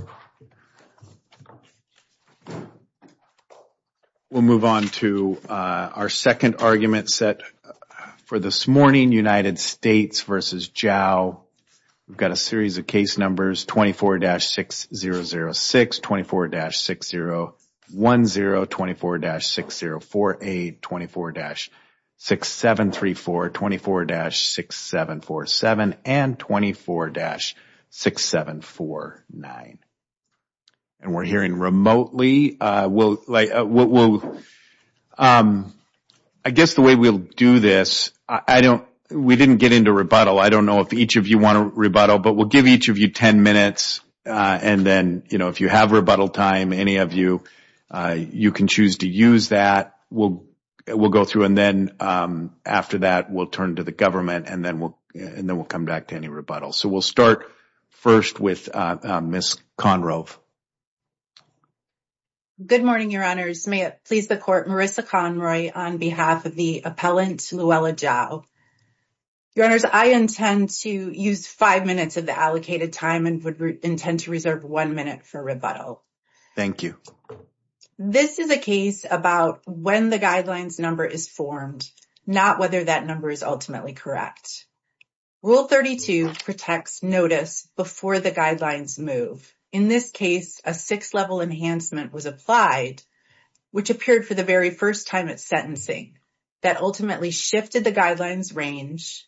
24-6006, 24-6010, 24-6048, 24-6734, 24-6747, and 24-6749. We are hearing remotely. I guess the way we will do this, we didn't get into rebuttal. I don't know if each of you want to rebuttal, but we will give each of you 10 minutes, and then if you have rebuttal time, any of you, you can choose to use that. We will go through, and then after that, we will turn to the government, and then we will come back to any rebuttals. We will start first with Ms. Conrove. Good morning, Your Honors. May it please the Court, Marissa Conroy on behalf of the appellant Luella Jao. Your Honors, I intend to use five minutes of the allocated time and would intend to reserve one minute for rebuttal. Thank you. This is a case about when the guidelines number is formed, not whether that number is ultimately correct. Rule 32 protects notice before the guidelines move. In this case, a six-level enhancement was applied, which appeared for the very first time at sentencing, that ultimately shifted the guidelines range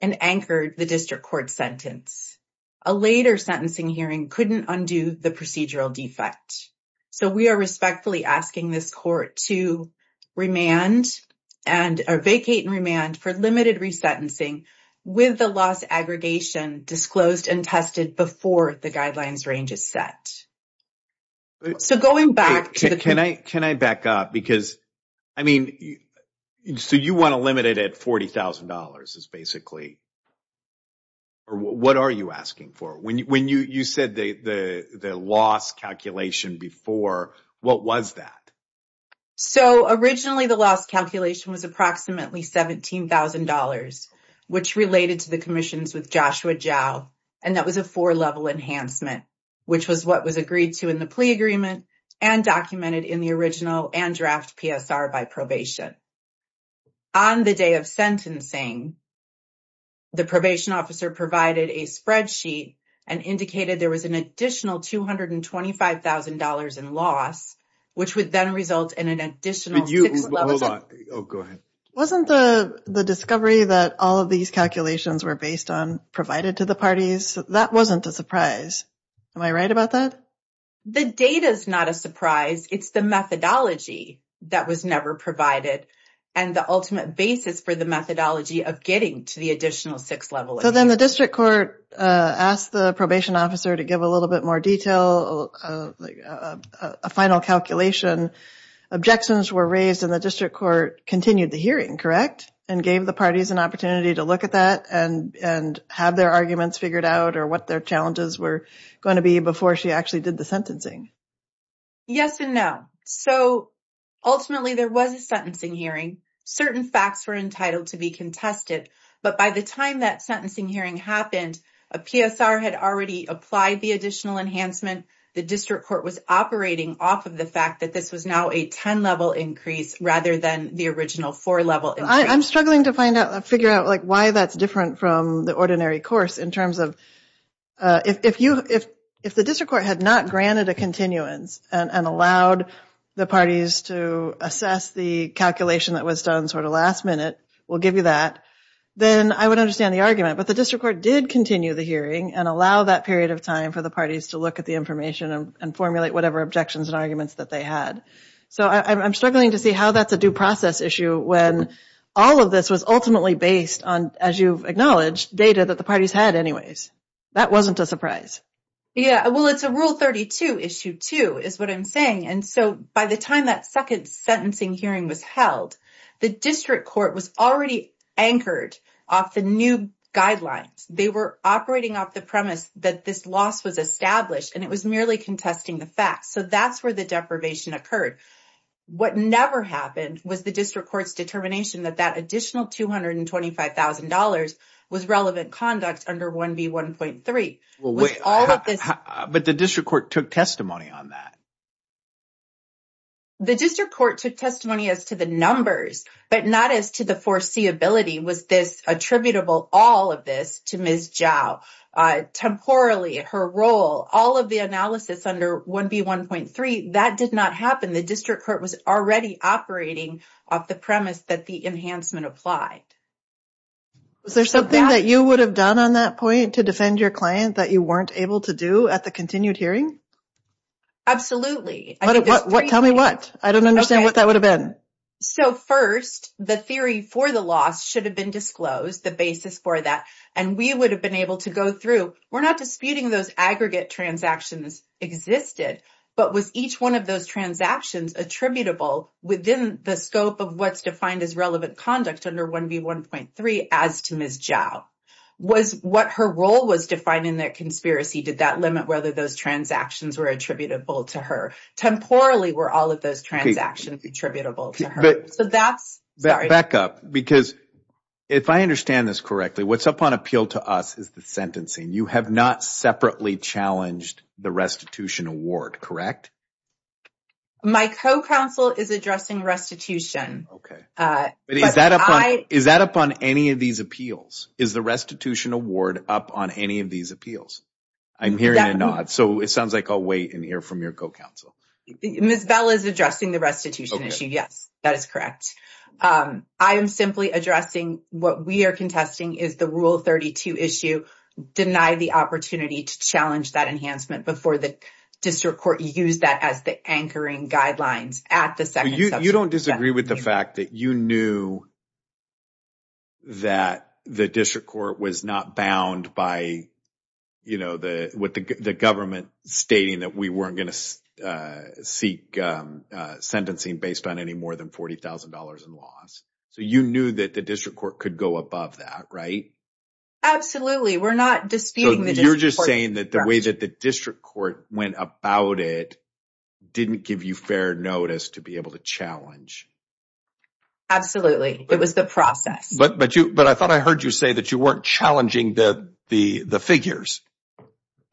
and anchored the district court sentence. A later sentencing hearing couldn't undo the procedural defect. So, we are respectfully asking this court to vacate and remand for limited resentencing with the loss aggregation disclosed and tested before the guidelines range is set. So, going back to the... Can I back up? Because, I mean, so you want to limit it at $40,000 is basically... What are you asking for? When you said the loss calculation before, what was that? So, originally, the loss calculation was approximately $17,000, which related to the commissions with Joshua Jao, and that was a four-level enhancement, which was what was agreed to in the plea agreement and documented in the original and draft PSR by probation. On the day of sentencing, the probation officer provided a spreadsheet and indicated there was an additional $225,000 in loss, which would then result in an additional... Hold on. Oh, go ahead. Wasn't the discovery that all of these calculations were based on provided to the parties, that wasn't a surprise. Am I right about that? The data is not a surprise. It's the methodology that was never provided and the ultimate basis for the methodology of getting to the additional six-level. So, then the district court asked the probation officer to give a little bit more detail, a final calculation. Objections were raised, and the district court continued the hearing, correct, and gave the parties an opportunity to look at that and have their arguments figured out or what their challenges were going to be before she actually did the sentencing. Yes and no. So, ultimately, there was a sentencing hearing. Certain facts were entitled to be contested, but by the time that sentencing hearing happened, a PSR had already applied the additional enhancement. The district court was operating off of the fact that this was now a 10-level increase rather than the original four-level increase. I'm struggling to figure out why that's different from the ordinary course in terms of, if the district court had not granted a continuance and allowed the parties to assess the calculation that was done sort of last minute, we'll give you that, then I would understand the argument. But the district court did continue the hearing and allow that period of time for the parties to look at the information and formulate whatever objections and arguments that they had. So, I'm struggling to see how that's a due process issue when all of this was ultimately based on, as you've acknowledged, data that the parties had anyways. That wasn't a surprise. Yeah, well, it's a Rule 32, Issue 2, is what I'm saying. And so, by the time that second sentencing hearing was held, the district court was already anchored off the new guidelines. They were operating off the premise that this loss was established and it was merely contesting the facts. So, that's where the deprivation occurred. What never happened was the district court's determination that that additional $225,000 was relevant conduct under 1B1.3. But the district court took testimony on that. The district court took testimony as to the numbers, but not as to the foreseeability. Was this attributable, all of this, to Ms. Zhao? Temporally, her role, all of the analysis under 1B1.3, that did not happen. The district court was already operating off the premise that the enhancement applied. Was there something that you would have done on that point to defend your client that you weren't able to do at the continued hearing? Absolutely. Tell me what. I don't understand what that would have been. So, first, the theory for the loss should have been disclosed, the basis for that. And we would have been able to go through. We're not disputing those aggregate transactions existed. But was each one of those transactions attributable within the scope of what's defined as relevant conduct under 1B1.3 as to Ms. Zhao? Was what her role was defined in that conspiracy, did that limit whether those transactions were attributable to her? Temporally, were all of those transactions attributable to her? Back up, because if I understand this correctly, what's up on appeal to us is the sentencing. You have not separately challenged the restitution award, correct? My co-counsel is addressing restitution. Is that up on any of these appeals? Is the restitution award up on any of these appeals? I'm hearing a nod. So, it sounds like I'll wait and hear from your co-counsel. Ms. Bell is addressing the restitution issue. Yes, that is correct. I am simply addressing what we are contesting is the Rule 32 issue. Deny the opportunity to challenge that enhancement before the district court used that as the anchoring guidelines at the second session. You don't disagree with the fact that you knew that the district court was not bound by the government stating that we weren't going to seek sentencing based on any more than $40,000 in loss. So, you knew that the district court could go above that, right? Absolutely, we're not disputing the district court. didn't give you fair notice to be able to challenge. Absolutely, it was the process. But I thought I heard you say that you weren't challenging the figures,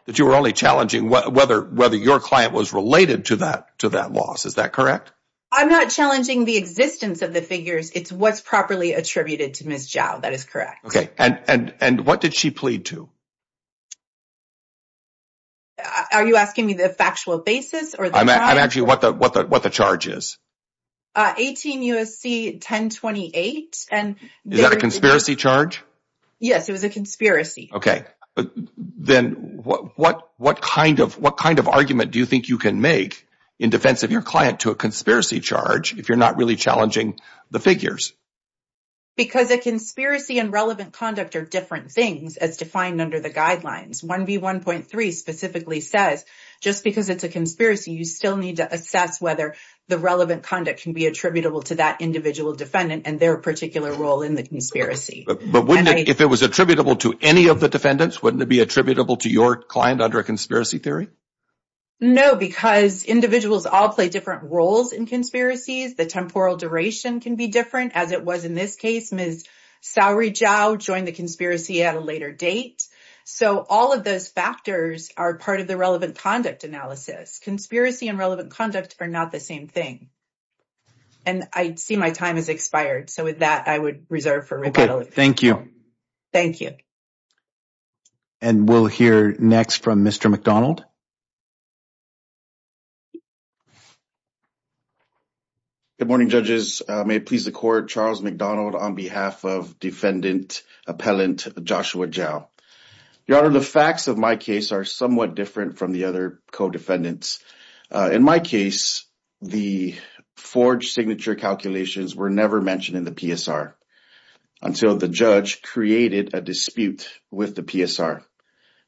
that you were only challenging whether your client was related to that loss. Is that correct? I'm not challenging the existence of the figures. It's what's properly attributed to Ms. Zhao. That is correct. Okay, and what did she plead to? Are you asking me the factual basis? I'm asking you what the charge is. 18 U.S.C. 1028. Is that a conspiracy charge? Yes, it was a conspiracy. Okay, then what kind of argument do you think you can make in defense of your client to a conspiracy charge if you're not really challenging the figures? Because a conspiracy and relevant conduct are different things as defined under the guidelines. 1B.1.3 specifically says just because it's a conspiracy, you still need to assess whether the relevant conduct can be attributable to that individual defendant and their particular role in the conspiracy. But if it was attributable to any of the defendants, wouldn't it be attributable to your client under a conspiracy theory? No, because individuals all play different roles in conspiracies. The temporal duration can be different. As it was in this case, Ms. Zhao joined the conspiracy at a later date. So all of those factors are part of the relevant conduct analysis. Conspiracy and relevant conduct are not the same thing. And I see my time has expired. So with that, I would reserve for rebuttal. Okay, thank you. Thank you. And we'll hear next from Mr. McDonald. Good morning, judges. May it please the court. Charles McDonald on behalf of defendant appellant Joshua Zhao. Your Honor, the facts of my case are somewhat different from the other co-defendants. In my case, the forged signature calculations were never mentioned in the PSR until the judge created a dispute with the PSR.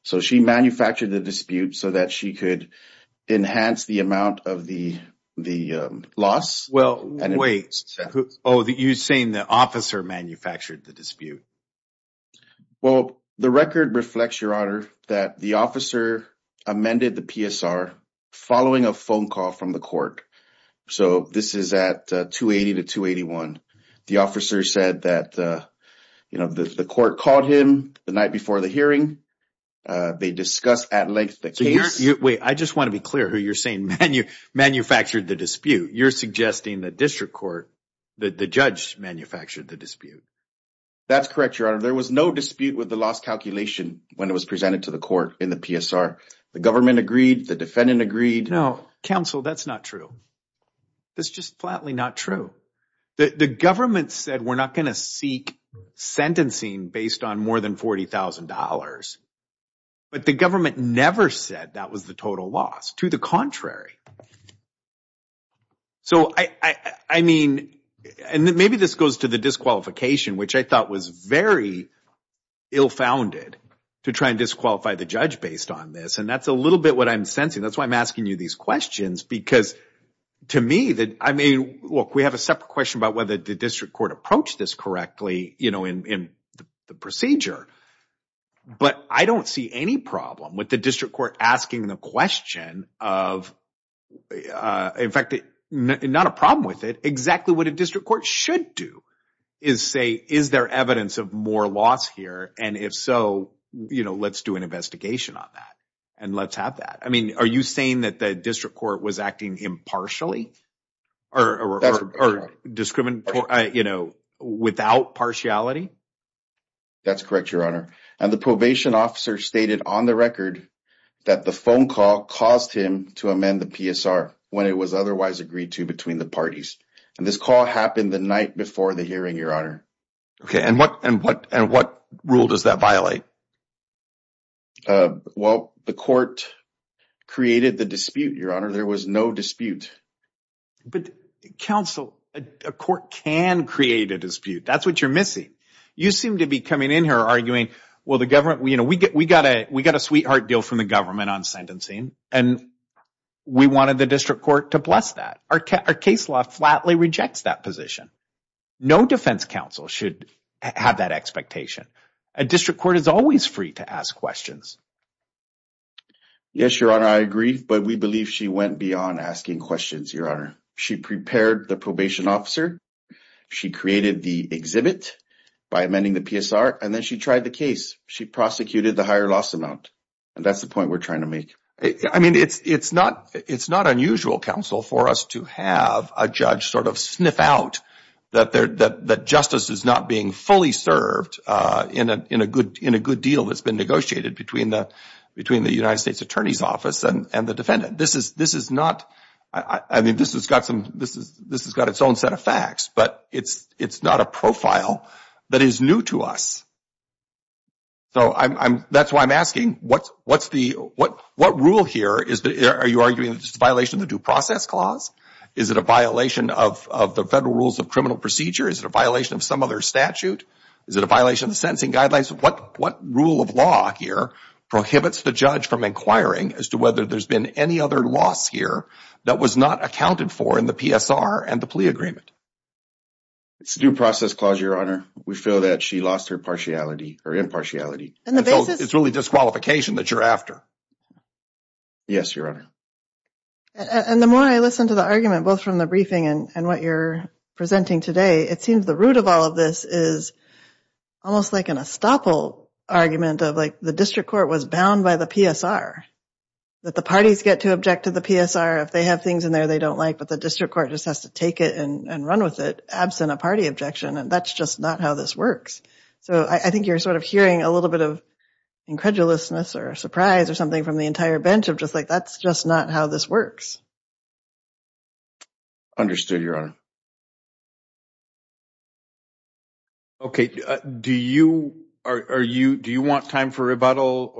So she manufactured the dispute so that she could enhance the amount of the loss. Well, wait. Oh, you're saying the officer manufactured the dispute. Well, the record reflects, Your Honor, that the officer amended the PSR following a phone call from the court. So this is at 280 to 281. The officer said that, you know, the court called him the night before the hearing. They discussed at length the case. Wait, I just want to be clear who you're saying manufactured the dispute. You're suggesting the district court, the judge, manufactured the dispute. That's correct, Your Honor. There was no dispute with the loss calculation when it was presented to the court in the PSR. The government agreed. The defendant agreed. No, counsel, that's not true. That's just flatly not true. The government said we're not going to seek sentencing based on more than $40,000. But the government never said that was the total loss. To the contrary. So, I mean, and maybe this goes to the disqualification, which I thought was very ill-founded to try and disqualify the judge based on this. And that's a little bit what I'm sensing. That's why I'm asking you these questions because, to me, I mean, look, we have a separate question about whether the district court approached this correctly, you know, in the procedure. But I don't see any problem with the district court asking the question of, in fact, not a problem with it. Exactly what a district court should do is say, is there evidence of more loss here? And if so, you know, let's do an investigation on that and let's have that. I mean, are you saying that the district court was acting impartially or, you know, without partiality? That's correct, Your Honor. And the probation officer stated on the record that the phone call caused him to amend the PSR when it was otherwise agreed to between the parties. And this call happened the night before the hearing, Your Honor. Okay. And what rule does that violate? Well, the court created the dispute, Your Honor. There was no dispute. But, counsel, a court can create a dispute. That's what you're missing. You seem to be coming in here arguing, well, the government, you know, we got a sweetheart deal from the government on sentencing. And we wanted the district court to bless that. Our case law flatly rejects that position. No defense counsel should have that expectation. A district court is always free to ask questions. Yes, Your Honor, I agree. But we believe she went beyond asking questions, Your Honor. She prepared the probation officer. She created the exhibit by amending the PSR. And then she tried the case. She prosecuted the higher loss amount. And that's the point we're trying to make. I mean, it's not unusual, counsel, for us to have a judge sort of sniff out that justice is not being fully served in a good deal that's been negotiated between the United States Attorney's Office and the defendant. This is not, I mean, this has got some, this has got its own set of facts. But it's not a profile that is new to us. So that's why I'm asking, what's the, what rule here, are you arguing this is a violation of the due process clause? Is it a violation of the federal rules of criminal procedure? Is it a violation of some other statute? Is it a violation of the sentencing guidelines? What rule of law here prohibits the judge from inquiring as to whether there's been any other loss here that was not accounted for in the PSR and the plea agreement? It's a due process clause, Your Honor. We feel that she lost her partiality or impartiality. And the basis? It's really disqualification that you're after. Yes, Your Honor. And the more I listen to the argument, both from the briefing and what you're presenting today, it seems the root of all of this is almost like an estoppel argument of, like, the district court was bound by the PSR, that the parties get to object to the PSR. If they have things in there they don't like, but the district court just has to take it and run with it, absent a party objection. And that's just not how this works. So I think you're sort of hearing a little bit of incredulousness or surprise or something from the entire bench of just, like, that's just not how this works. Understood, Your Honor. Okay, do you want time for rebuttal?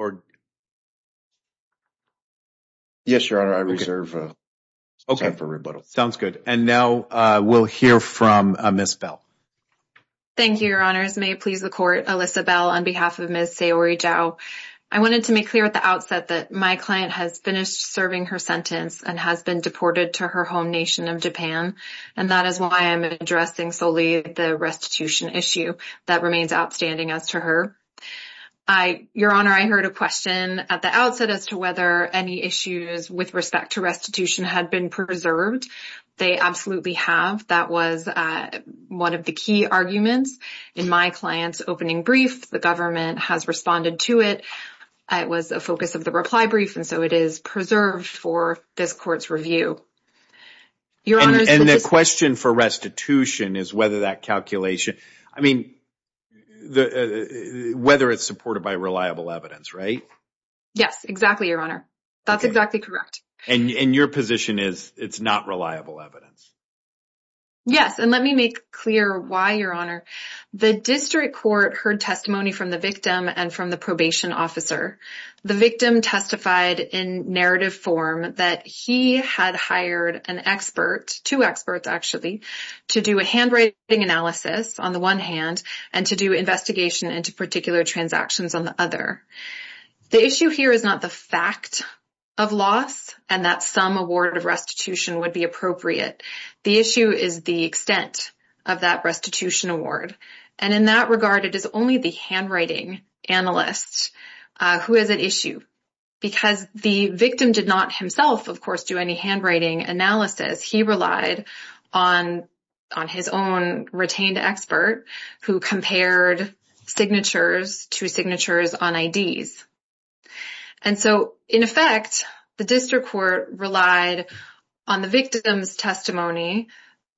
Yes, Your Honor, I reserve time for rebuttal. Sounds good. And now we'll hear from Ms. Bell. Thank you, Your Honors. May it please the Court. Alyssa Bell on behalf of Ms. Sayori Jao. I wanted to make clear at the outset that my client has finished serving her sentence and has been deported to her home nation of Japan. And that is why I'm addressing solely the restitution issue. That remains outstanding as to her. Your Honor, I heard a question at the outset as to whether any issues with respect to restitution had been preserved. They absolutely have. That was one of the key arguments in my client's opening brief. The government has responded to it. It was a focus of the reply brief, and so it is preserved for this Court's review. And the question for restitution is whether that calculation, I mean, whether it's supported by reliable evidence, right? Yes, exactly, Your Honor. That's exactly correct. And your position is it's not reliable evidence? Yes, and let me make clear why, Your Honor. The district court heard testimony from the victim and from the probation officer. The victim testified in narrative form that he had hired an expert, two experts actually, to do a handwriting analysis on the one hand and to do investigation into particular transactions on the other. The issue here is not the fact of loss and that some award of restitution would be appropriate. The issue is the extent of that restitution award. And in that regard, it is only the handwriting analyst who has an issue because the victim did not himself, of course, do any handwriting analysis. He relied on his own retained expert who compared signatures to signatures on IDs. And so, in effect, the district court relied on the victim's testimony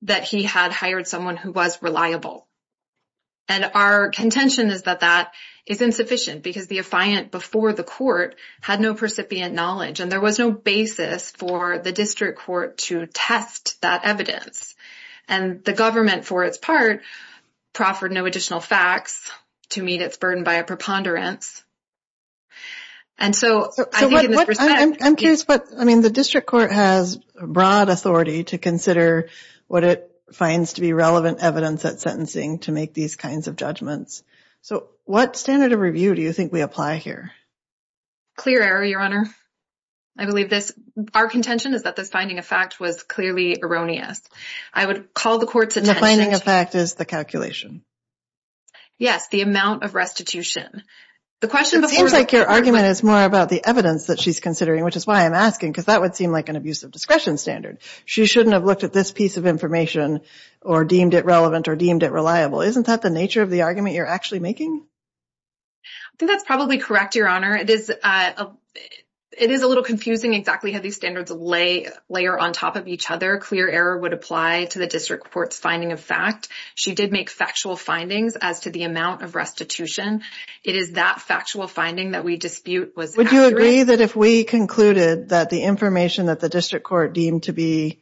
that he had hired someone who was reliable. And our contention is that that is insufficient because the affiant before the court had no percipient knowledge and there was no basis for the district court to test that evidence. And the government, for its part, proffered no additional facts to meet its burden by a preponderance. And so I'm curious, but I mean, the district court has broad authority to consider what it finds to be relevant evidence at sentencing to make these kinds of judgments. So what standard of review do you think we apply here? Clear error, Your Honor. I believe this. Our contention is that this finding of fact was clearly erroneous. I would call the court's attention. The finding of fact is the calculation. Yes, the amount of restitution. It seems like your argument is more about the evidence that she's considering, which is why I'm asking, because that would seem like an abusive discretion standard. She shouldn't have looked at this piece of information or deemed it relevant or deemed it reliable. Isn't that the nature of the argument you're actually making? I think that's probably correct, Your Honor. It is a little confusing exactly how these standards lay layer on top of each other. Clear error would apply to the district court's finding of fact. She did make factual findings as to the amount of restitution. It is that factual finding that we dispute. Would you agree that if we concluded that the information that the district court deemed to be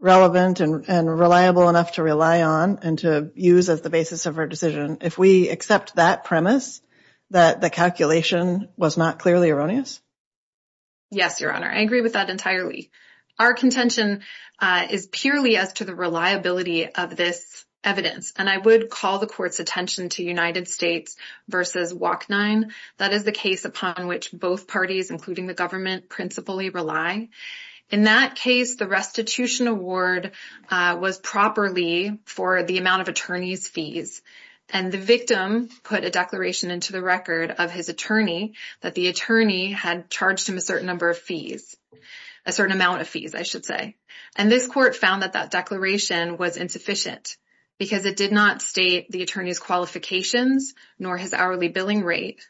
relevant and reliable enough to rely on and to use as the basis of our decision, if we accept that premise, that the calculation was not clearly erroneous? Yes, Your Honor. I agree with that entirely. Our contention is purely as to the reliability of this evidence, and I would call the court's attention to United States v. WAC-9. That is the case upon which both parties, including the government, principally rely. In that case, the restitution award was properly for the amount of attorneys' fees, and the victim put a declaration into the record of his attorney that the attorney had charged him a certain number of fees. A certain amount of fees, I should say. And this court found that that declaration was insufficient because it did not state the attorney's qualifications nor his hourly billing rate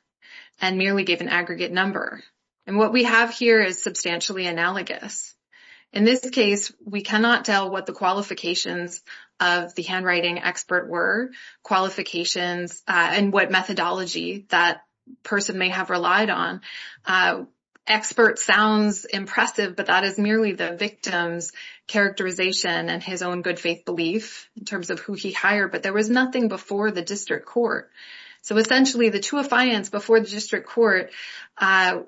and merely gave an aggregate number. And what we have here is substantially analogous. In this case, we cannot tell what the qualifications of the handwriting expert were, qualifications and what methodology that person may have relied on. Expert sounds impressive, but that is merely the victim's characterization and his own good faith belief in terms of who he hired. But there was nothing before the district court. So essentially, the two affiants before the district court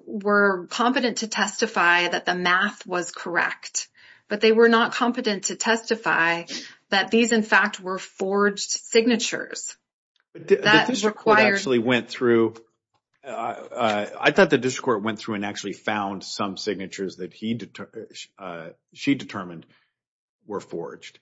were competent to testify that the math was correct. But they were not competent to testify that these, in fact, were forged signatures. I thought the district court went through and actually found some signatures that she determined were forged.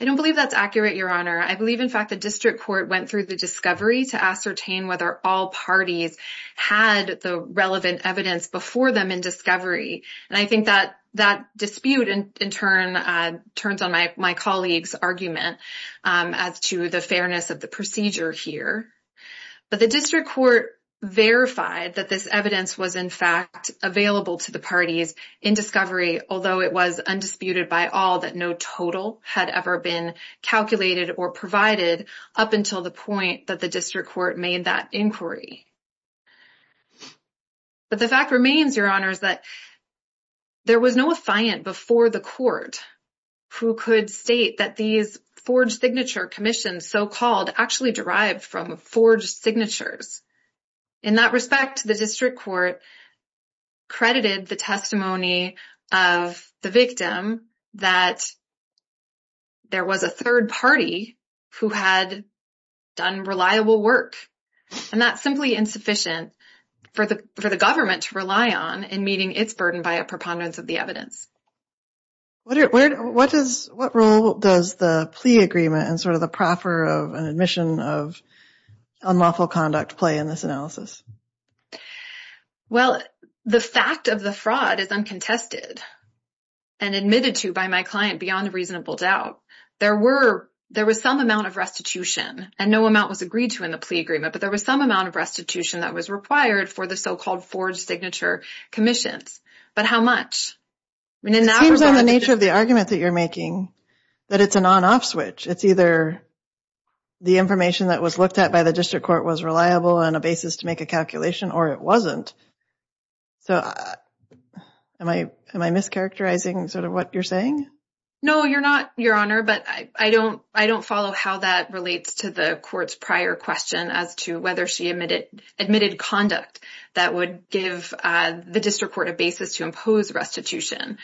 I don't believe that's accurate, Your Honor. I believe, in fact, the district court went through the discovery to ascertain whether all parties had the relevant evidence before them in discovery. And I think that dispute, in turn, turns on my colleague's argument as to the fairness of the procedure here. But the district court verified that this evidence was, in fact, available to the parties in discovery, although it was undisputed by all that no total had ever been calculated or provided up until the point that the district court made that inquiry. But the fact remains, Your Honor, that there was no affiant before the court who could state that these forged signature commissions, so-called, actually derived from forged signatures. In that respect, the district court credited the testimony of the victim that there was a third party who had done reliable work. And that's simply insufficient for the government to rely on in meeting its burden by a preponderance of the evidence. What role does the plea agreement and sort of the proffer of an admission of unlawful conduct play in this analysis? Well, the fact of the fraud is uncontested and admitted to by my client beyond reasonable doubt. There were there was some amount of restitution and no amount was agreed to in the plea agreement. But there was some amount of restitution that was required for the so-called forged signature commissions. But how much? It seems on the nature of the argument that you're making that it's an on-off switch. It's either the information that was looked at by the district court was reliable on a basis to make a calculation or it wasn't. So am I am I mischaracterizing sort of what you're saying? No, you're not, Your Honor, but I don't I don't follow how that relates to the court's prior question as to whether she admitted admitted conduct that would give the district court a basis to impose restitution.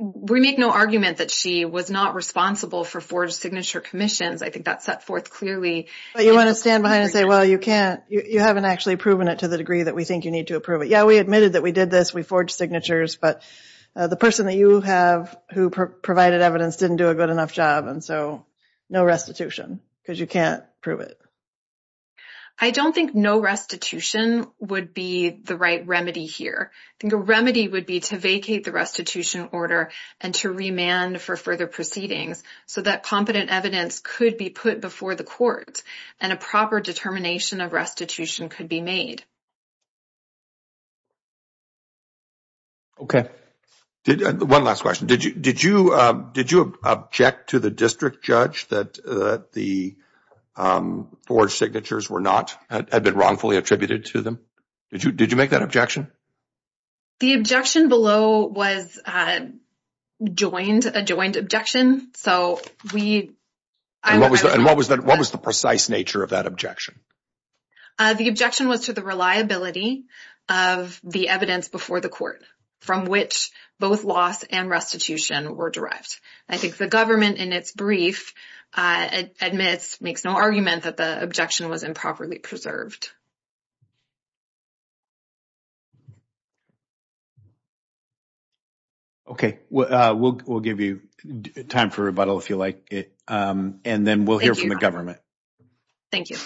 We make no argument that she was not responsible for forged signature commissions. I think that's set forth clearly. But you want to stand behind and say, well, you can't you haven't actually proven it to the degree that we think you need to approve it. Yeah, we admitted that we did this. We forged signatures. But the person that you have who provided evidence didn't do a good enough job. And so no restitution because you can't prove it. I don't think no restitution would be the right remedy here. The remedy would be to vacate the restitution order and to remand for further proceedings so that competent evidence could be put before the court and a proper determination of restitution could be made. OK. One last question. Did you did you did you object to the district judge that the forged signatures were not had been wrongfully attributed to them? Did you did you make that objection? The objection below was joined a joined objection. So we. And what was that? What was the precise nature of that objection? The objection was to the reliability of the evidence before the court from which both loss and restitution were derived. I think the government in its brief admits makes no argument that the objection was improperly preserved. OK, well, we'll give you time for rebuttal if you like, and then we'll hear from the government. Thank you.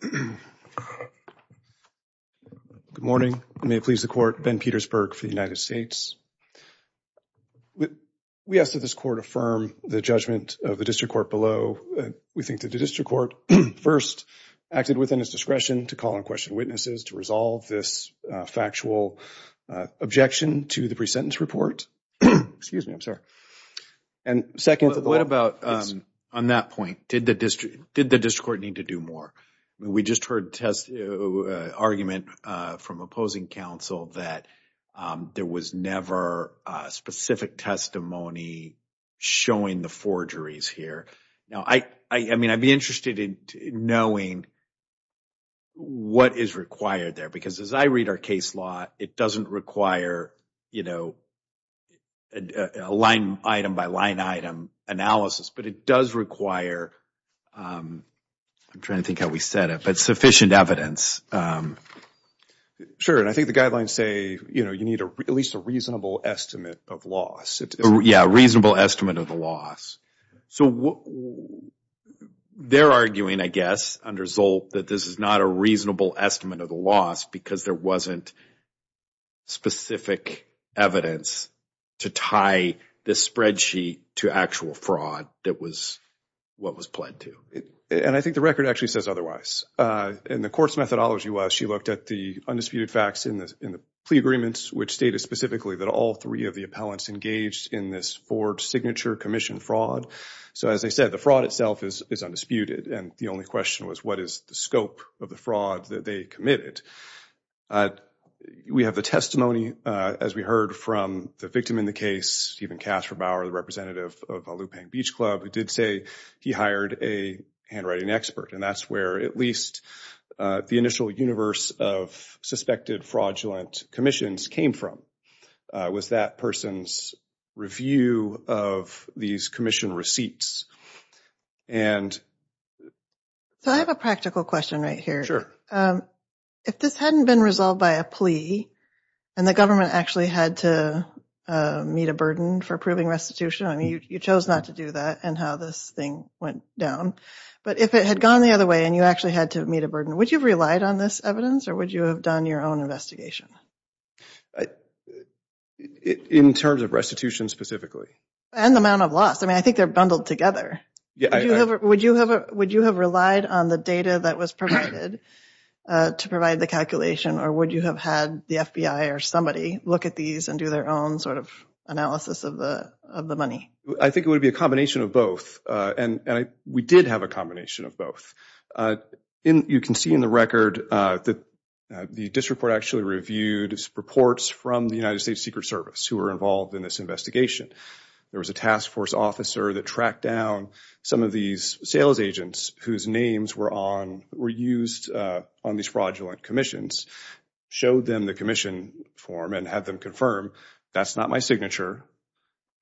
Good morning. May it please the court. Ben Petersburg for the United States. We asked that this court affirm the judgment of the district court below. We think that the district court first acted within its discretion to call and question witnesses to resolve this factual objection to the presentence report. Excuse me, I'm sorry. And second, what about on that point? Did the district did the district court need to do more? We just heard test argument from opposing counsel that there was never specific testimony showing the forgeries here. Now, I mean, I'd be interested in knowing. What is required there? Because as I read our case law, it doesn't require, you know, a line item by line item analysis, but it does require. I'm trying to think how we set it, but sufficient evidence. Sure. And I think the guidelines say, you know, you need at least a reasonable estimate of loss. Yeah. Reasonable estimate of the loss. So they're arguing, I guess, under Zolt, that this is not a reasonable estimate of the loss because there wasn't specific evidence to tie this spreadsheet to actual fraud. That was what was pled to. And I think the record actually says otherwise. And the court's methodology was she looked at the undisputed facts in the plea agreements, which stated specifically that all three of the appellants engaged in this forged signature commission fraud. So, as I said, the fraud itself is undisputed. And the only question was, what is the scope of the fraud that they committed? We have the testimony, as we heard from the victim in the case, Stephen Kasperbauer, the representative of Lupine Beach Club, who did say he hired a handwriting expert. And that's where at least the initial universe of suspected fraudulent commissions came from, was that person's review of these commission receipts. So I have a practical question right here. If this hadn't been resolved by a plea and the government actually had to meet a burden for proving restitution, I mean, you chose not to do that and how this thing went down. But if it had gone the other way and you actually had to meet a burden, would you have relied on this evidence or would you have done your own investigation? In terms of restitution specifically? And the amount of loss. I mean, I think they're bundled together. Would you have relied on the data that was provided to provide the calculation or would you have had the FBI or somebody look at these and do their own sort of analysis of the money? I think it would be a combination of both. And we did have a combination of both. You can see in the record that the district court actually reviewed reports from the United States Secret Service who were involved in this investigation. There was a task force officer that tracked down some of these sales agents whose names were used on these fraudulent commissions, showed them the commission form and had them confirm, that's not my signature,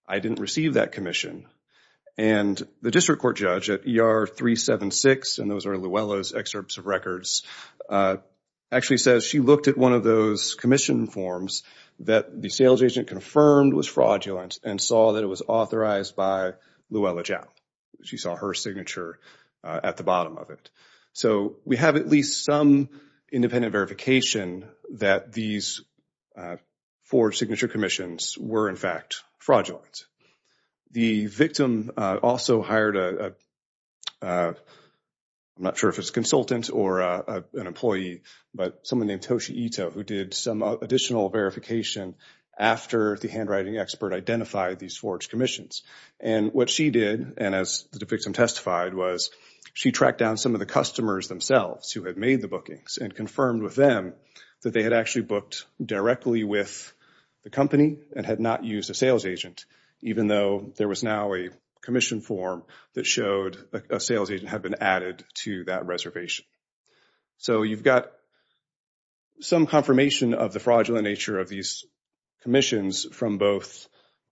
I didn't receive that commission. And the district court judge at ER 376, and those are Luella's excerpts of records, actually says she looked at one of those commission forms that the sales agent confirmed was fraudulent and saw that it was authorized by Luella Jowell. She saw her signature at the bottom of it. So we have at least some independent verification that these four signature commissions were in fact fraudulent. The victim also hired, I'm not sure if it's a consultant or an employee, but someone named Toshi Ito who did some additional verification after the handwriting expert identified these forged commissions. And what she did, and as the victim testified, was she tracked down some of the customers themselves who had made the bookings and confirmed with them that they had actually booked directly with the company and had not used a sales agent, even though there was now a commission form that showed a sales agent had been added to that reservation. So you've got some confirmation of the fraudulent nature of these commissions from both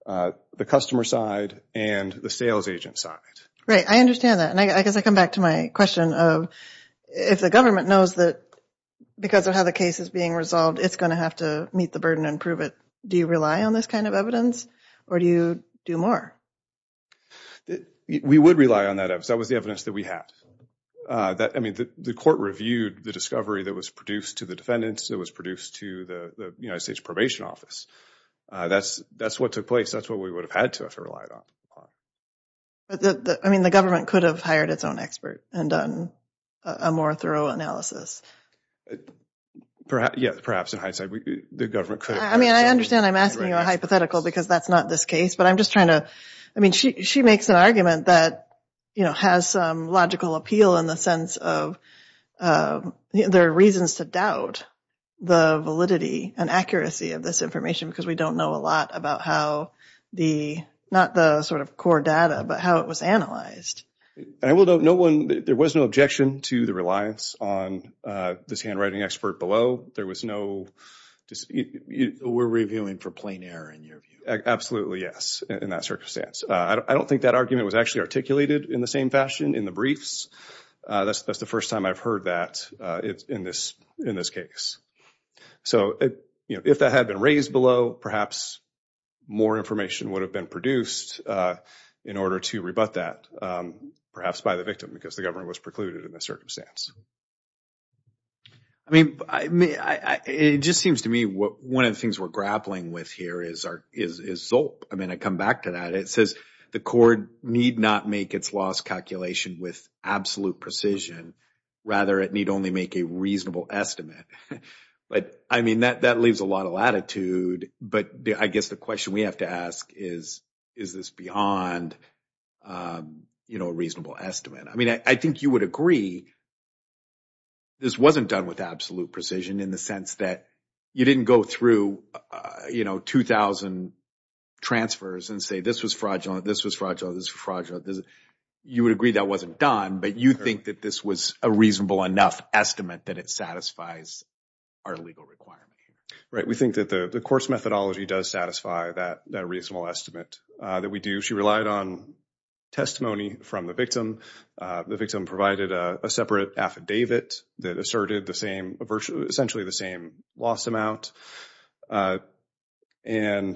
the customer side and the sales agent side. Right, I understand that, and I guess I come back to my question of if the government knows that because of how the case is being resolved, it's going to have to meet the burden and prove it, do you rely on this kind of evidence, or do you do more? We would rely on that evidence. That was the evidence that we had. I mean, the court reviewed the discovery that was produced to the defendants, that was produced to the United States Probation Office. That's what took place. That's what we would have had to have relied on. I mean, the government could have hired its own expert and done a more thorough analysis. Yeah, perhaps in hindsight, the government could have. I mean, I understand I'm asking you a hypothetical because that's not this case, but I'm just trying to – I mean, she makes an argument that has some logical appeal in the sense of there are reasons to doubt the validity and accuracy of this information because we don't know a lot about how the – not the sort of core data, but how it was analyzed. And I will note no one – there was no objection to the reliance on this handwriting expert below. There was no – We're reviewing for plain error in your view. Absolutely, yes, in that circumstance. I don't think that argument was actually articulated in the same fashion in the briefs. That's the first time I've heard that in this case. So if that had been raised below, perhaps more information would have been produced in order to rebut that, perhaps by the victim because the government was precluded in that circumstance. I mean, it just seems to me one of the things we're grappling with here is ZOLP. I mean, I come back to that. It says the court need not make its loss calculation with absolute precision. Rather, it need only make a reasonable estimate. But, I mean, that leaves a lot of latitude. But I guess the question we have to ask is, is this beyond a reasonable estimate? I mean, I think you would agree this wasn't done with absolute precision in the sense that you didn't go through, you know, 2,000 transfers and say this was fraudulent, this was fraudulent, this was fraudulent. You would agree that wasn't done, but you think that this was a reasonable enough estimate that it satisfies our legal requirement. Right. We think that the court's methodology does satisfy that reasonable estimate that we do. She relied on testimony from the victim. The victim provided a separate affidavit that asserted essentially the same loss amount. And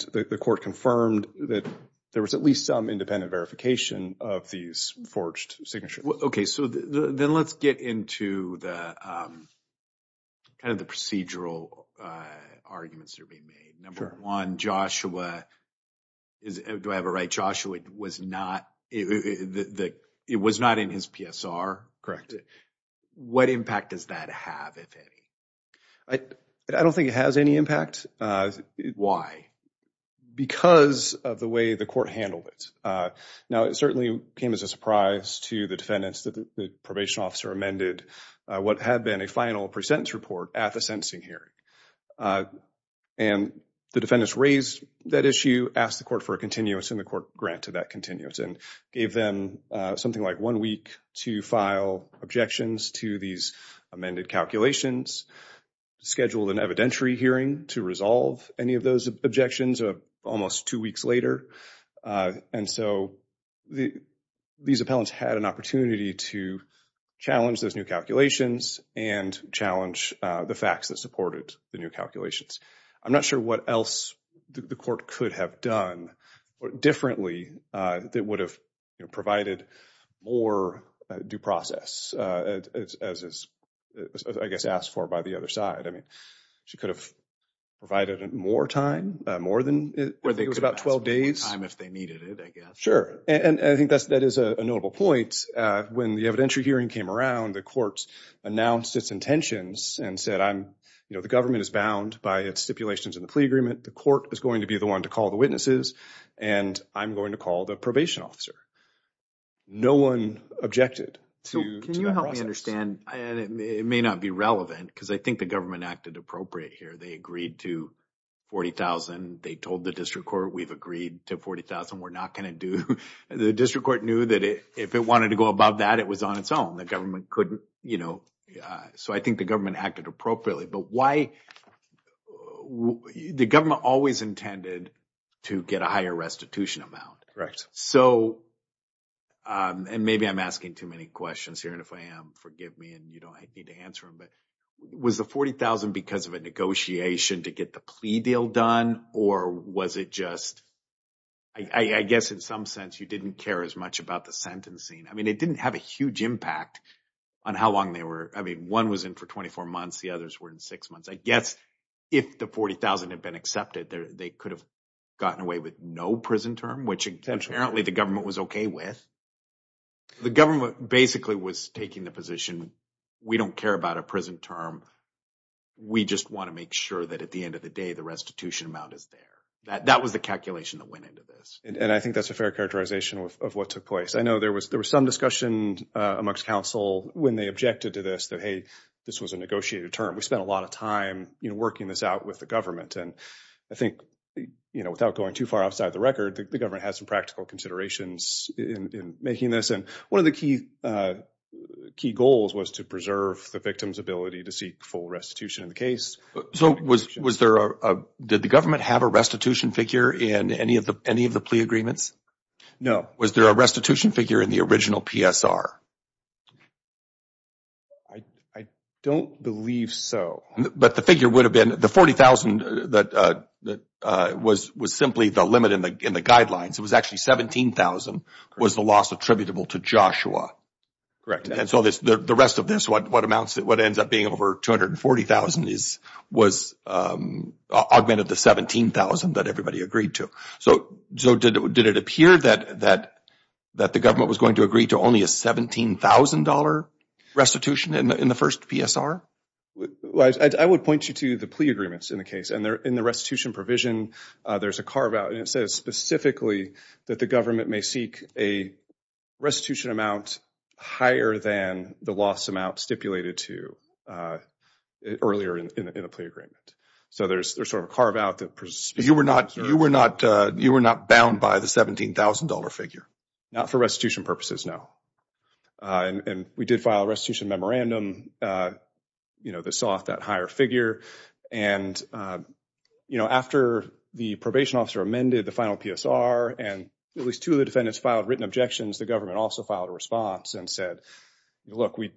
the court confirmed that there was at least some independent verification of these forged signatures. Okay. So then let's get into kind of the procedural arguments that are being made. Sure. One, Joshua, do I have it right, Joshua was not in his PSR? What impact does that have, if any? I don't think it has any impact. Why? Because of the way the court handled it. Now, it certainly came as a surprise to the defendants that the probation officer amended what had been a final pre-sentence report at the sentencing hearing. And the defendants raised that issue, asked the court for a continuous, and the court granted that continuous, and gave them something like one week to file objections to these amended calculations, scheduled an evidentiary hearing to resolve any of those objections almost two weeks later. And so these appellants had an opportunity to challenge those new calculations and challenge the facts that supported the new calculations. I'm not sure what else the court could have done differently that would have provided more due process, as is, I guess, asked for by the other side. I mean, she could have provided more time, more than, I think it was about 12 days. More time if they needed it, I guess. Sure. And I think that is a notable point. When the evidentiary hearing came around, the courts announced its intentions and said, you know, the government is bound by its stipulations in the plea agreement, the court is going to be the one to call the witnesses, and I'm going to call the probation officer. No one objected to that process. It may not be relevant because I think the government acted appropriate here. They agreed to $40,000. They told the district court, we've agreed to $40,000. We're not going to do – the district court knew that if it wanted to go above that, it was on its own. The government couldn't, you know – so I think the government acted appropriately. But why – the government always intended to get a higher restitution amount. Correct. So – and maybe I'm asking too many questions here, and if I am, forgive me and you don't need to answer them, but was the $40,000 because of a negotiation to get the plea deal done or was it just – I guess in some sense you didn't care as much about the sentencing. I mean, it didn't have a huge impact on how long they were – I mean, one was in for 24 months. The others were in six months. I guess if the $40,000 had been accepted, they could have gotten away with no prison term, which apparently the government was okay with. The government basically was taking the position we don't care about a prison term. We just want to make sure that at the end of the day the restitution amount is there. That was the calculation that went into this. And I think that's a fair characterization of what took place. I know there was some discussion amongst counsel when they objected to this that, hey, this was a negotiated term. We spent a lot of time working this out with the government. And I think, you know, without going too far outside the record, the government has some practical considerations in making this. And one of the key goals was to preserve the victim's ability to seek full restitution in the case. So was there a – did the government have a restitution figure in any of the plea agreements? No. Was there a restitution figure in the original PSR? I don't believe so. But the figure would have been the $40,000 that was simply the limit in the guidelines. It was actually $17,000 was the loss attributable to Joshua. And so the rest of this, what amounts – what ends up being over $240,000 was augmented to $17,000 that everybody agreed to. So did it appear that the government was going to agree to only a $17,000 restitution in the first PSR? I would point you to the plea agreements in the case. And in the restitution provision, there's a carve-out, and it says specifically that the government may seek a restitution amount higher than the loss amount stipulated to earlier in the plea agreement. So there's sort of a carve-out that – You were not bound by the $17,000 figure? Not for restitution purposes, no. And we did file a restitution memorandum that saw that higher figure. And after the probation officer amended the final PSR and at least two of the defendants filed written objections, the government also filed a response and said, look, we're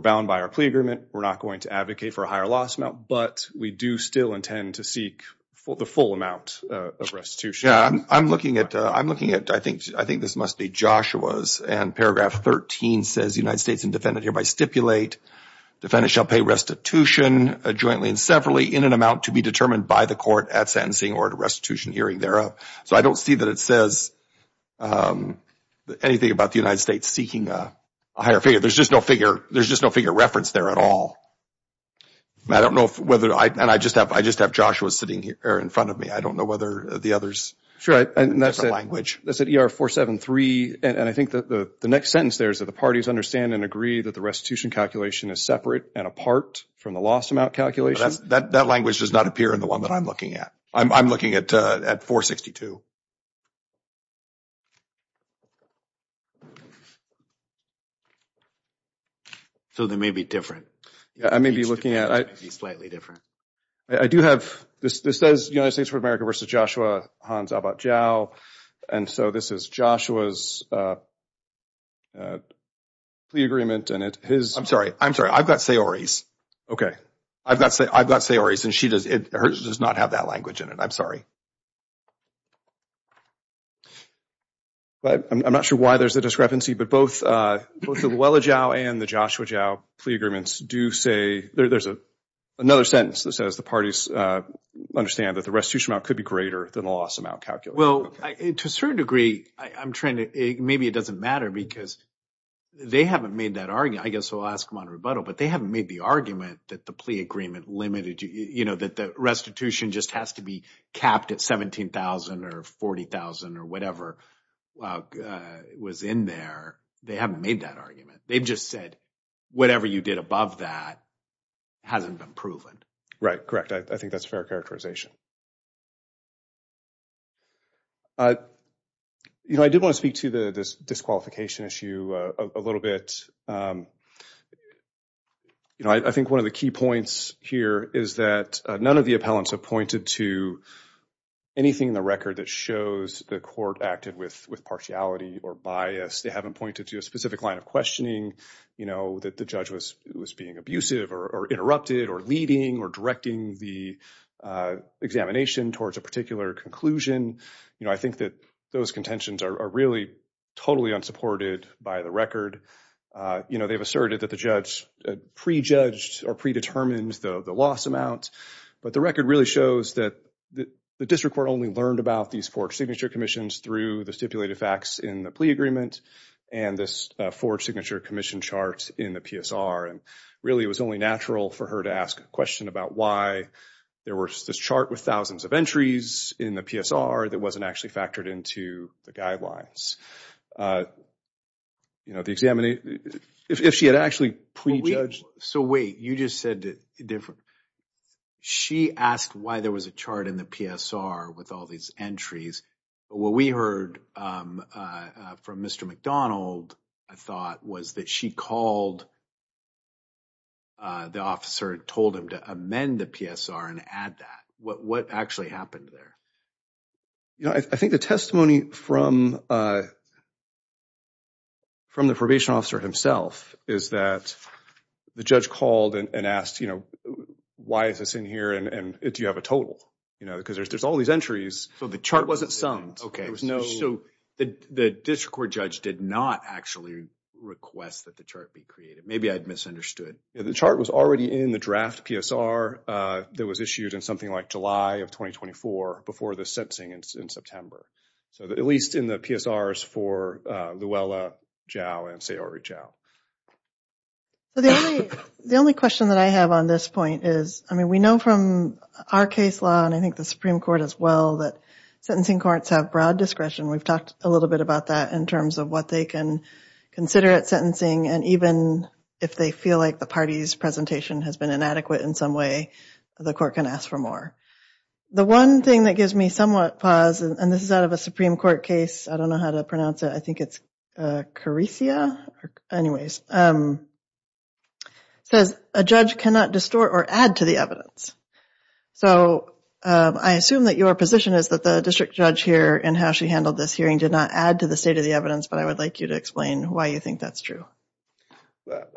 bound by our plea agreement, we're not going to advocate for a higher loss amount, but we do still intend to seek the full amount of restitution. Yeah, I'm looking at – I think this must be Joshua's, and paragraph 13 says the United States and defendant hereby stipulate, defendant shall pay restitution jointly and severally in an amount to be determined by the court at sentencing or at a restitution hearing thereof. So I don't see that it says anything about the United States seeking a higher figure. There's just no figure referenced there at all. I don't know whether – and I just have Joshua sitting here in front of me. I don't know whether the others have a different language. That's at ER 473, and I think the next sentence there is that the parties understand and agree that the restitution calculation is separate and apart from the loss amount calculation. That language does not appear in the one that I'm looking at. I'm looking at 462. So they may be different. Yeah, I may be looking at – They may be slightly different. I do have – this says United States of America v. Joshua Hans Abat-Jao, and so this is Joshua's plea agreement, and his – I'm sorry. I'm sorry. I've got Sayori's. Okay. I've got Sayori's, and hers does not have that language in it. I'm sorry. I'm not sure why there's a discrepancy, but both the Luella Jao and the Joshua Jao plea agreements do say – there's another sentence that says the parties understand that the restitution amount could be greater than the loss amount calculation. Well, to a certain degree, I'm trying to – maybe it doesn't matter because they haven't made that argument. I guess I'll ask them on rebuttal, but they haven't made the argument that the plea agreement limited – that the restitution just has to be capped at 17,000 or 40,000 or whatever was in there. They haven't made that argument. They've just said whatever you did above that hasn't been proven. Correct. I think that's a fair characterization. You know, I did want to speak to this disqualification issue a little bit. You know, I think one of the key points here is that none of the appellants have pointed to anything in the record that shows the court acted with partiality or bias. They haven't pointed to a specific line of questioning, you know, that the judge was being abusive or interrupted or leading or directing the examination towards a particular conclusion. You know, I think that those contentions are really totally unsupported by the record. You know, they've asserted that the judge prejudged or predetermined the loss amount, but the record really shows that the district court only learned about these four signature commissions through the stipulated facts in the plea agreement and this four signature commission charts in the PSR. Really, it was only natural for her to ask a question about why there was this chart with thousands of entries in the PSR that wasn't actually factored into the guidelines. You know, if she had actually prejudged... So wait, you just said that she asked why there was a chart in the PSR with all these entries. What we heard from Mr. McDonald, I thought, was that she called the officer, told him to amend the PSR and add that. What actually happened there? You know, I think the testimony from the probation officer himself is that the judge called and asked, you know, why is this in here and do you have a total? You know, because there's all these entries. So the chart wasn't summed. Okay. So the district court judge did not actually request that the chart be created. Maybe I'd misunderstood. The chart was already in the draft PSR that was issued in something like July of 2024 before the sentencing in September. So at least in the PSRs for Luella Zhao and Sayuri Zhao. The only question that I have on this point is, I mean, we know from our case law and I think the Supreme Court as well, that sentencing courts have broad discretion. We've talked a little bit about that in terms of what they can consider at sentencing and even if they feel like the party's presentation has been inadequate in some way, the court can ask for more. The one thing that gives me somewhat pause, and this is out of a Supreme Court case, I don't know how to pronounce it, I think it's Caricia, anyways, says a judge cannot distort or add to the evidence. So I assume that your position is that the district judge here and how she handled this hearing did not add to the state of the evidence, but I would like you to explain why you think that's true.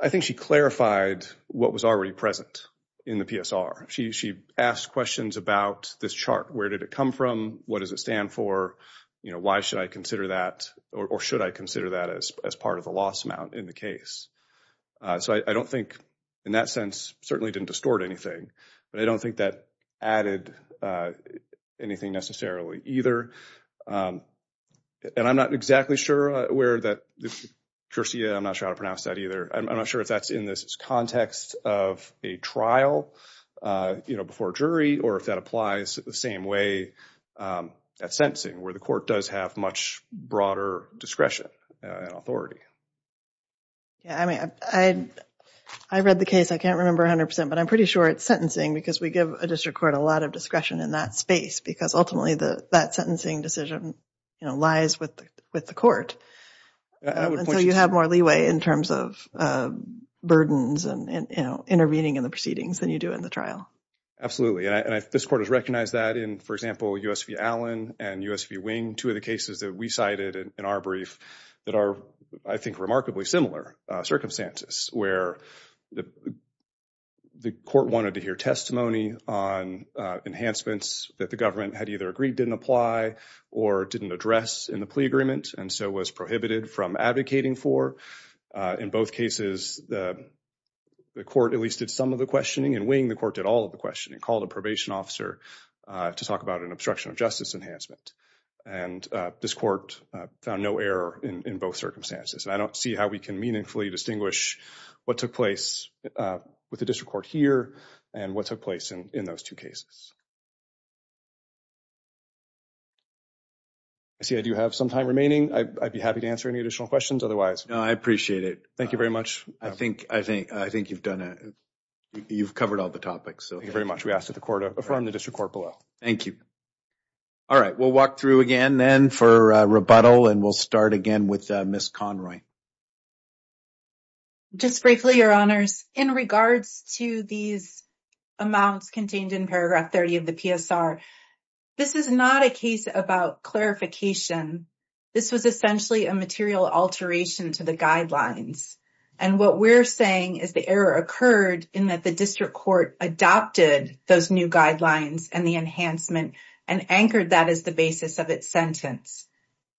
I think she clarified what was already present in the PSR. She asked questions about this chart. Where did it come from? What does it stand for? Why should I consider that or should I consider that as part of the loss amount in the case? So I don't think in that sense certainly didn't distort anything. But I don't think that added anything necessarily either. And I'm not exactly sure where that, Caricia, I'm not sure how to pronounce that either. I'm not sure if that's in this context of a trial, you know, before a jury, or if that applies the same way at sentencing where the court does have much broader discretion and authority. I read the case, I can't remember 100%, but I'm pretty sure it's sentencing because we give a district court a lot of discretion in that space because ultimately that sentencing decision lies with the court. So you have more leeway in terms of burdens and, you know, intervening in the proceedings than you do in the trial. Absolutely. And this court has recognized that in, for example, U.S. v. Allen and U.S. v. Wing, two of the cases that we cited in our brief that are, I think, remarkably similar circumstances where the court wanted to hear testimony on enhancements that the government had either agreed didn't apply or didn't address in the plea agreement and so was prohibited from advocating for. In both cases, the court at least did some of the questioning. In Wing, the court did all of the questioning, called a probation officer to talk about an obstruction of justice enhancement, and this court found no error in both circumstances. And I don't see how we can meaningfully distinguish what took place with the district court here and what took place in those two cases. I see I do have some time remaining. I'd be happy to answer any additional questions otherwise. No, I appreciate it. Thank you very much. I think you've covered all the topics. Thank you very much. We ask that the court affirm the district court below. Thank you. All right. We'll walk through again then for rebuttal, and we'll start again with Ms. Conroy. Just briefly, Your Honors, in regards to these amounts contained in paragraph 30 of the PSR, this is not a case about clarification. This was essentially a material alteration to the guidelines, and what we're saying is the error occurred in that the district court adopted those new guidelines and the enhancement and anchored that as the basis of its sentence.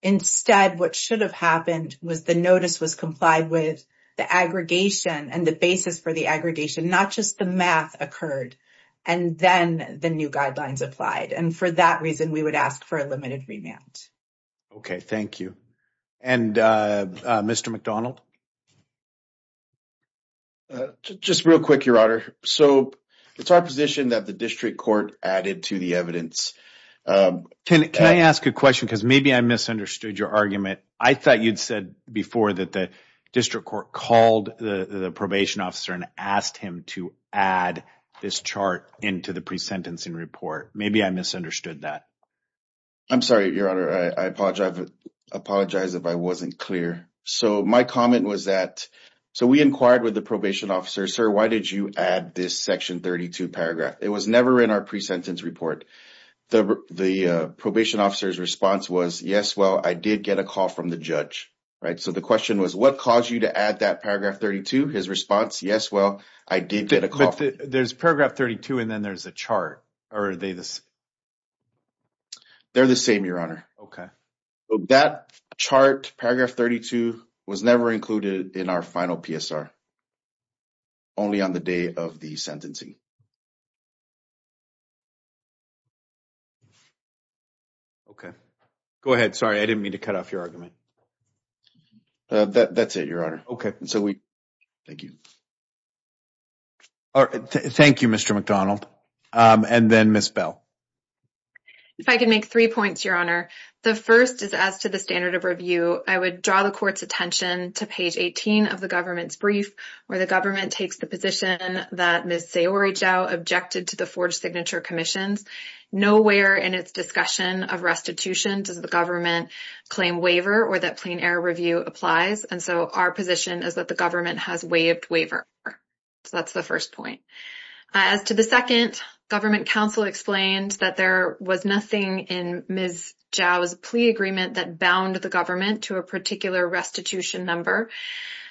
Instead, what should have happened was the notice was complied with the aggregation and the basis for the aggregation. Not just the math occurred, and then the new guidelines applied, and for that reason, we would ask for a limited remand. Okay. Thank you. And Mr. McDonald? Just real quick, Your Honor. So it's our position that the district court added to the evidence. Can I ask a question? Because maybe I misunderstood your argument. I thought you'd said before that the district court called the probation officer and asked him to add this chart into the pre-sentencing report. Maybe I misunderstood that. I'm sorry, Your Honor. I apologize if I wasn't clear. So my comment was that we inquired with the probation officer, sir, why did you add this section 32 paragraph? It was never in our pre-sentence report. The probation officer's response was, yes, well, I did get a call from the judge. So the question was, what caused you to add that paragraph 32? His response, yes, well, I did get a call. But there's paragraph 32, and then there's a chart. Or are they the same? They're the same, Your Honor. Okay. That chart, paragraph 32, was never included in our final PSR, only on the day of the sentencing. Okay. Go ahead. Sorry, I didn't mean to cut off your argument. That's it, Your Honor. Okay. Thank you. Thank you, Mr. McDonald. And then Ms. Bell. If I could make three points, Your Honor. The first is, as to the standard of review, I would draw the court's attention to page 18 of the government's brief, where the government takes the position that Ms. Saori Jo objected to the forged signature commissions. Nowhere in its discussion of restitution does the government claim waiver or that plain error review applies. And so our position is that the government has waived waiver. So that's the first point. As to the second, government counsel explained that there was nothing in Ms. Jo's plea agreement that bound the government to a particular restitution number.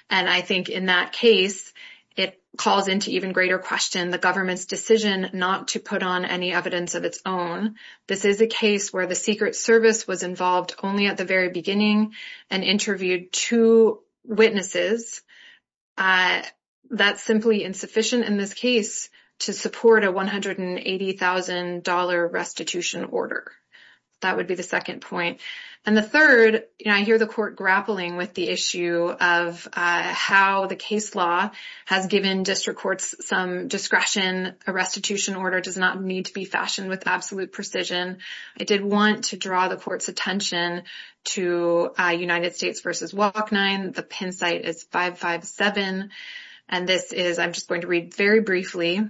And I think in that case, it calls into even greater question, the government's decision not to put on any evidence of its own. This is a case where the Secret Service was involved only at the very beginning and interviewed two witnesses. That's simply insufficient in this case to support a $180,000 restitution order. That would be the second point. And the third, I hear the court grappling with the issue of how the case law has given district courts some discretion. A restitution order does not need to be fashioned with absolute precision. I did want to draw the court's attention to United States versus Walk9. The pin site is 557. And this is, I'm just going to read very briefly.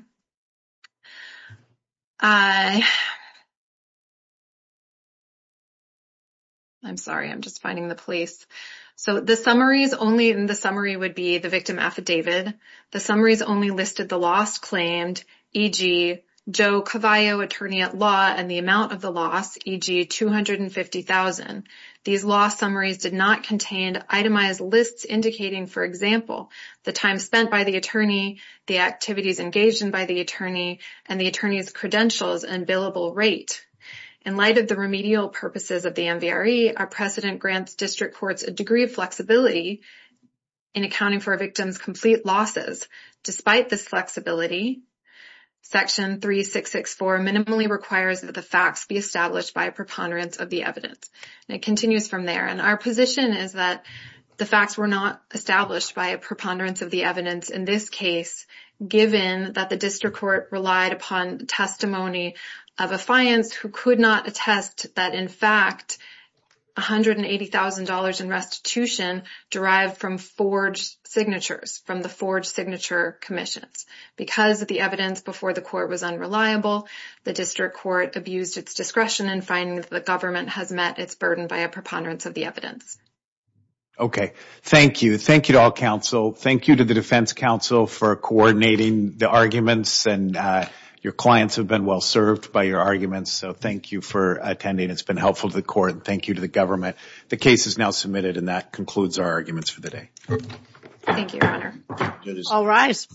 I'm sorry. I'm just finding the police. So the summary is only in the summary would be the victim affidavit. The summary is only listed. The last claimed EG, Joe Cavallo attorney at law and the amount of the loss EG, 250,000. These loss summaries did not contain itemized lists, indicating for example, the time spent by the attorney, the activities engaged in by the attorney and the attorney's credentials and billable rate. In light of the remedial purposes of the MVRE, our precedent grants district courts, a degree of flexibility in accounting for a victim's complete losses. Despite this flexibility section three, six, six four minimally requires that the facts be established by a preponderance of the evidence. And it continues from there. And our position is that the facts were not established by a preponderance of the evidence in this case, given that the district court relied upon testimony of a science who could not attest that in fact, $180,000 in restitution derived from forge signatures from the forge signature commissions, because of the evidence before the court was unreliable. The district court abused its discretion and finding that the government has met its burden by a preponderance of the evidence. Thank you. Thank you to all council. Thank you to the defense council for coordinating the arguments and your clients have been well served by your arguments. So thank you for attending. It's been helpful to the court. Thank you to the government. The case is now submitted and that concludes our arguments for the day. Thank you, All rise.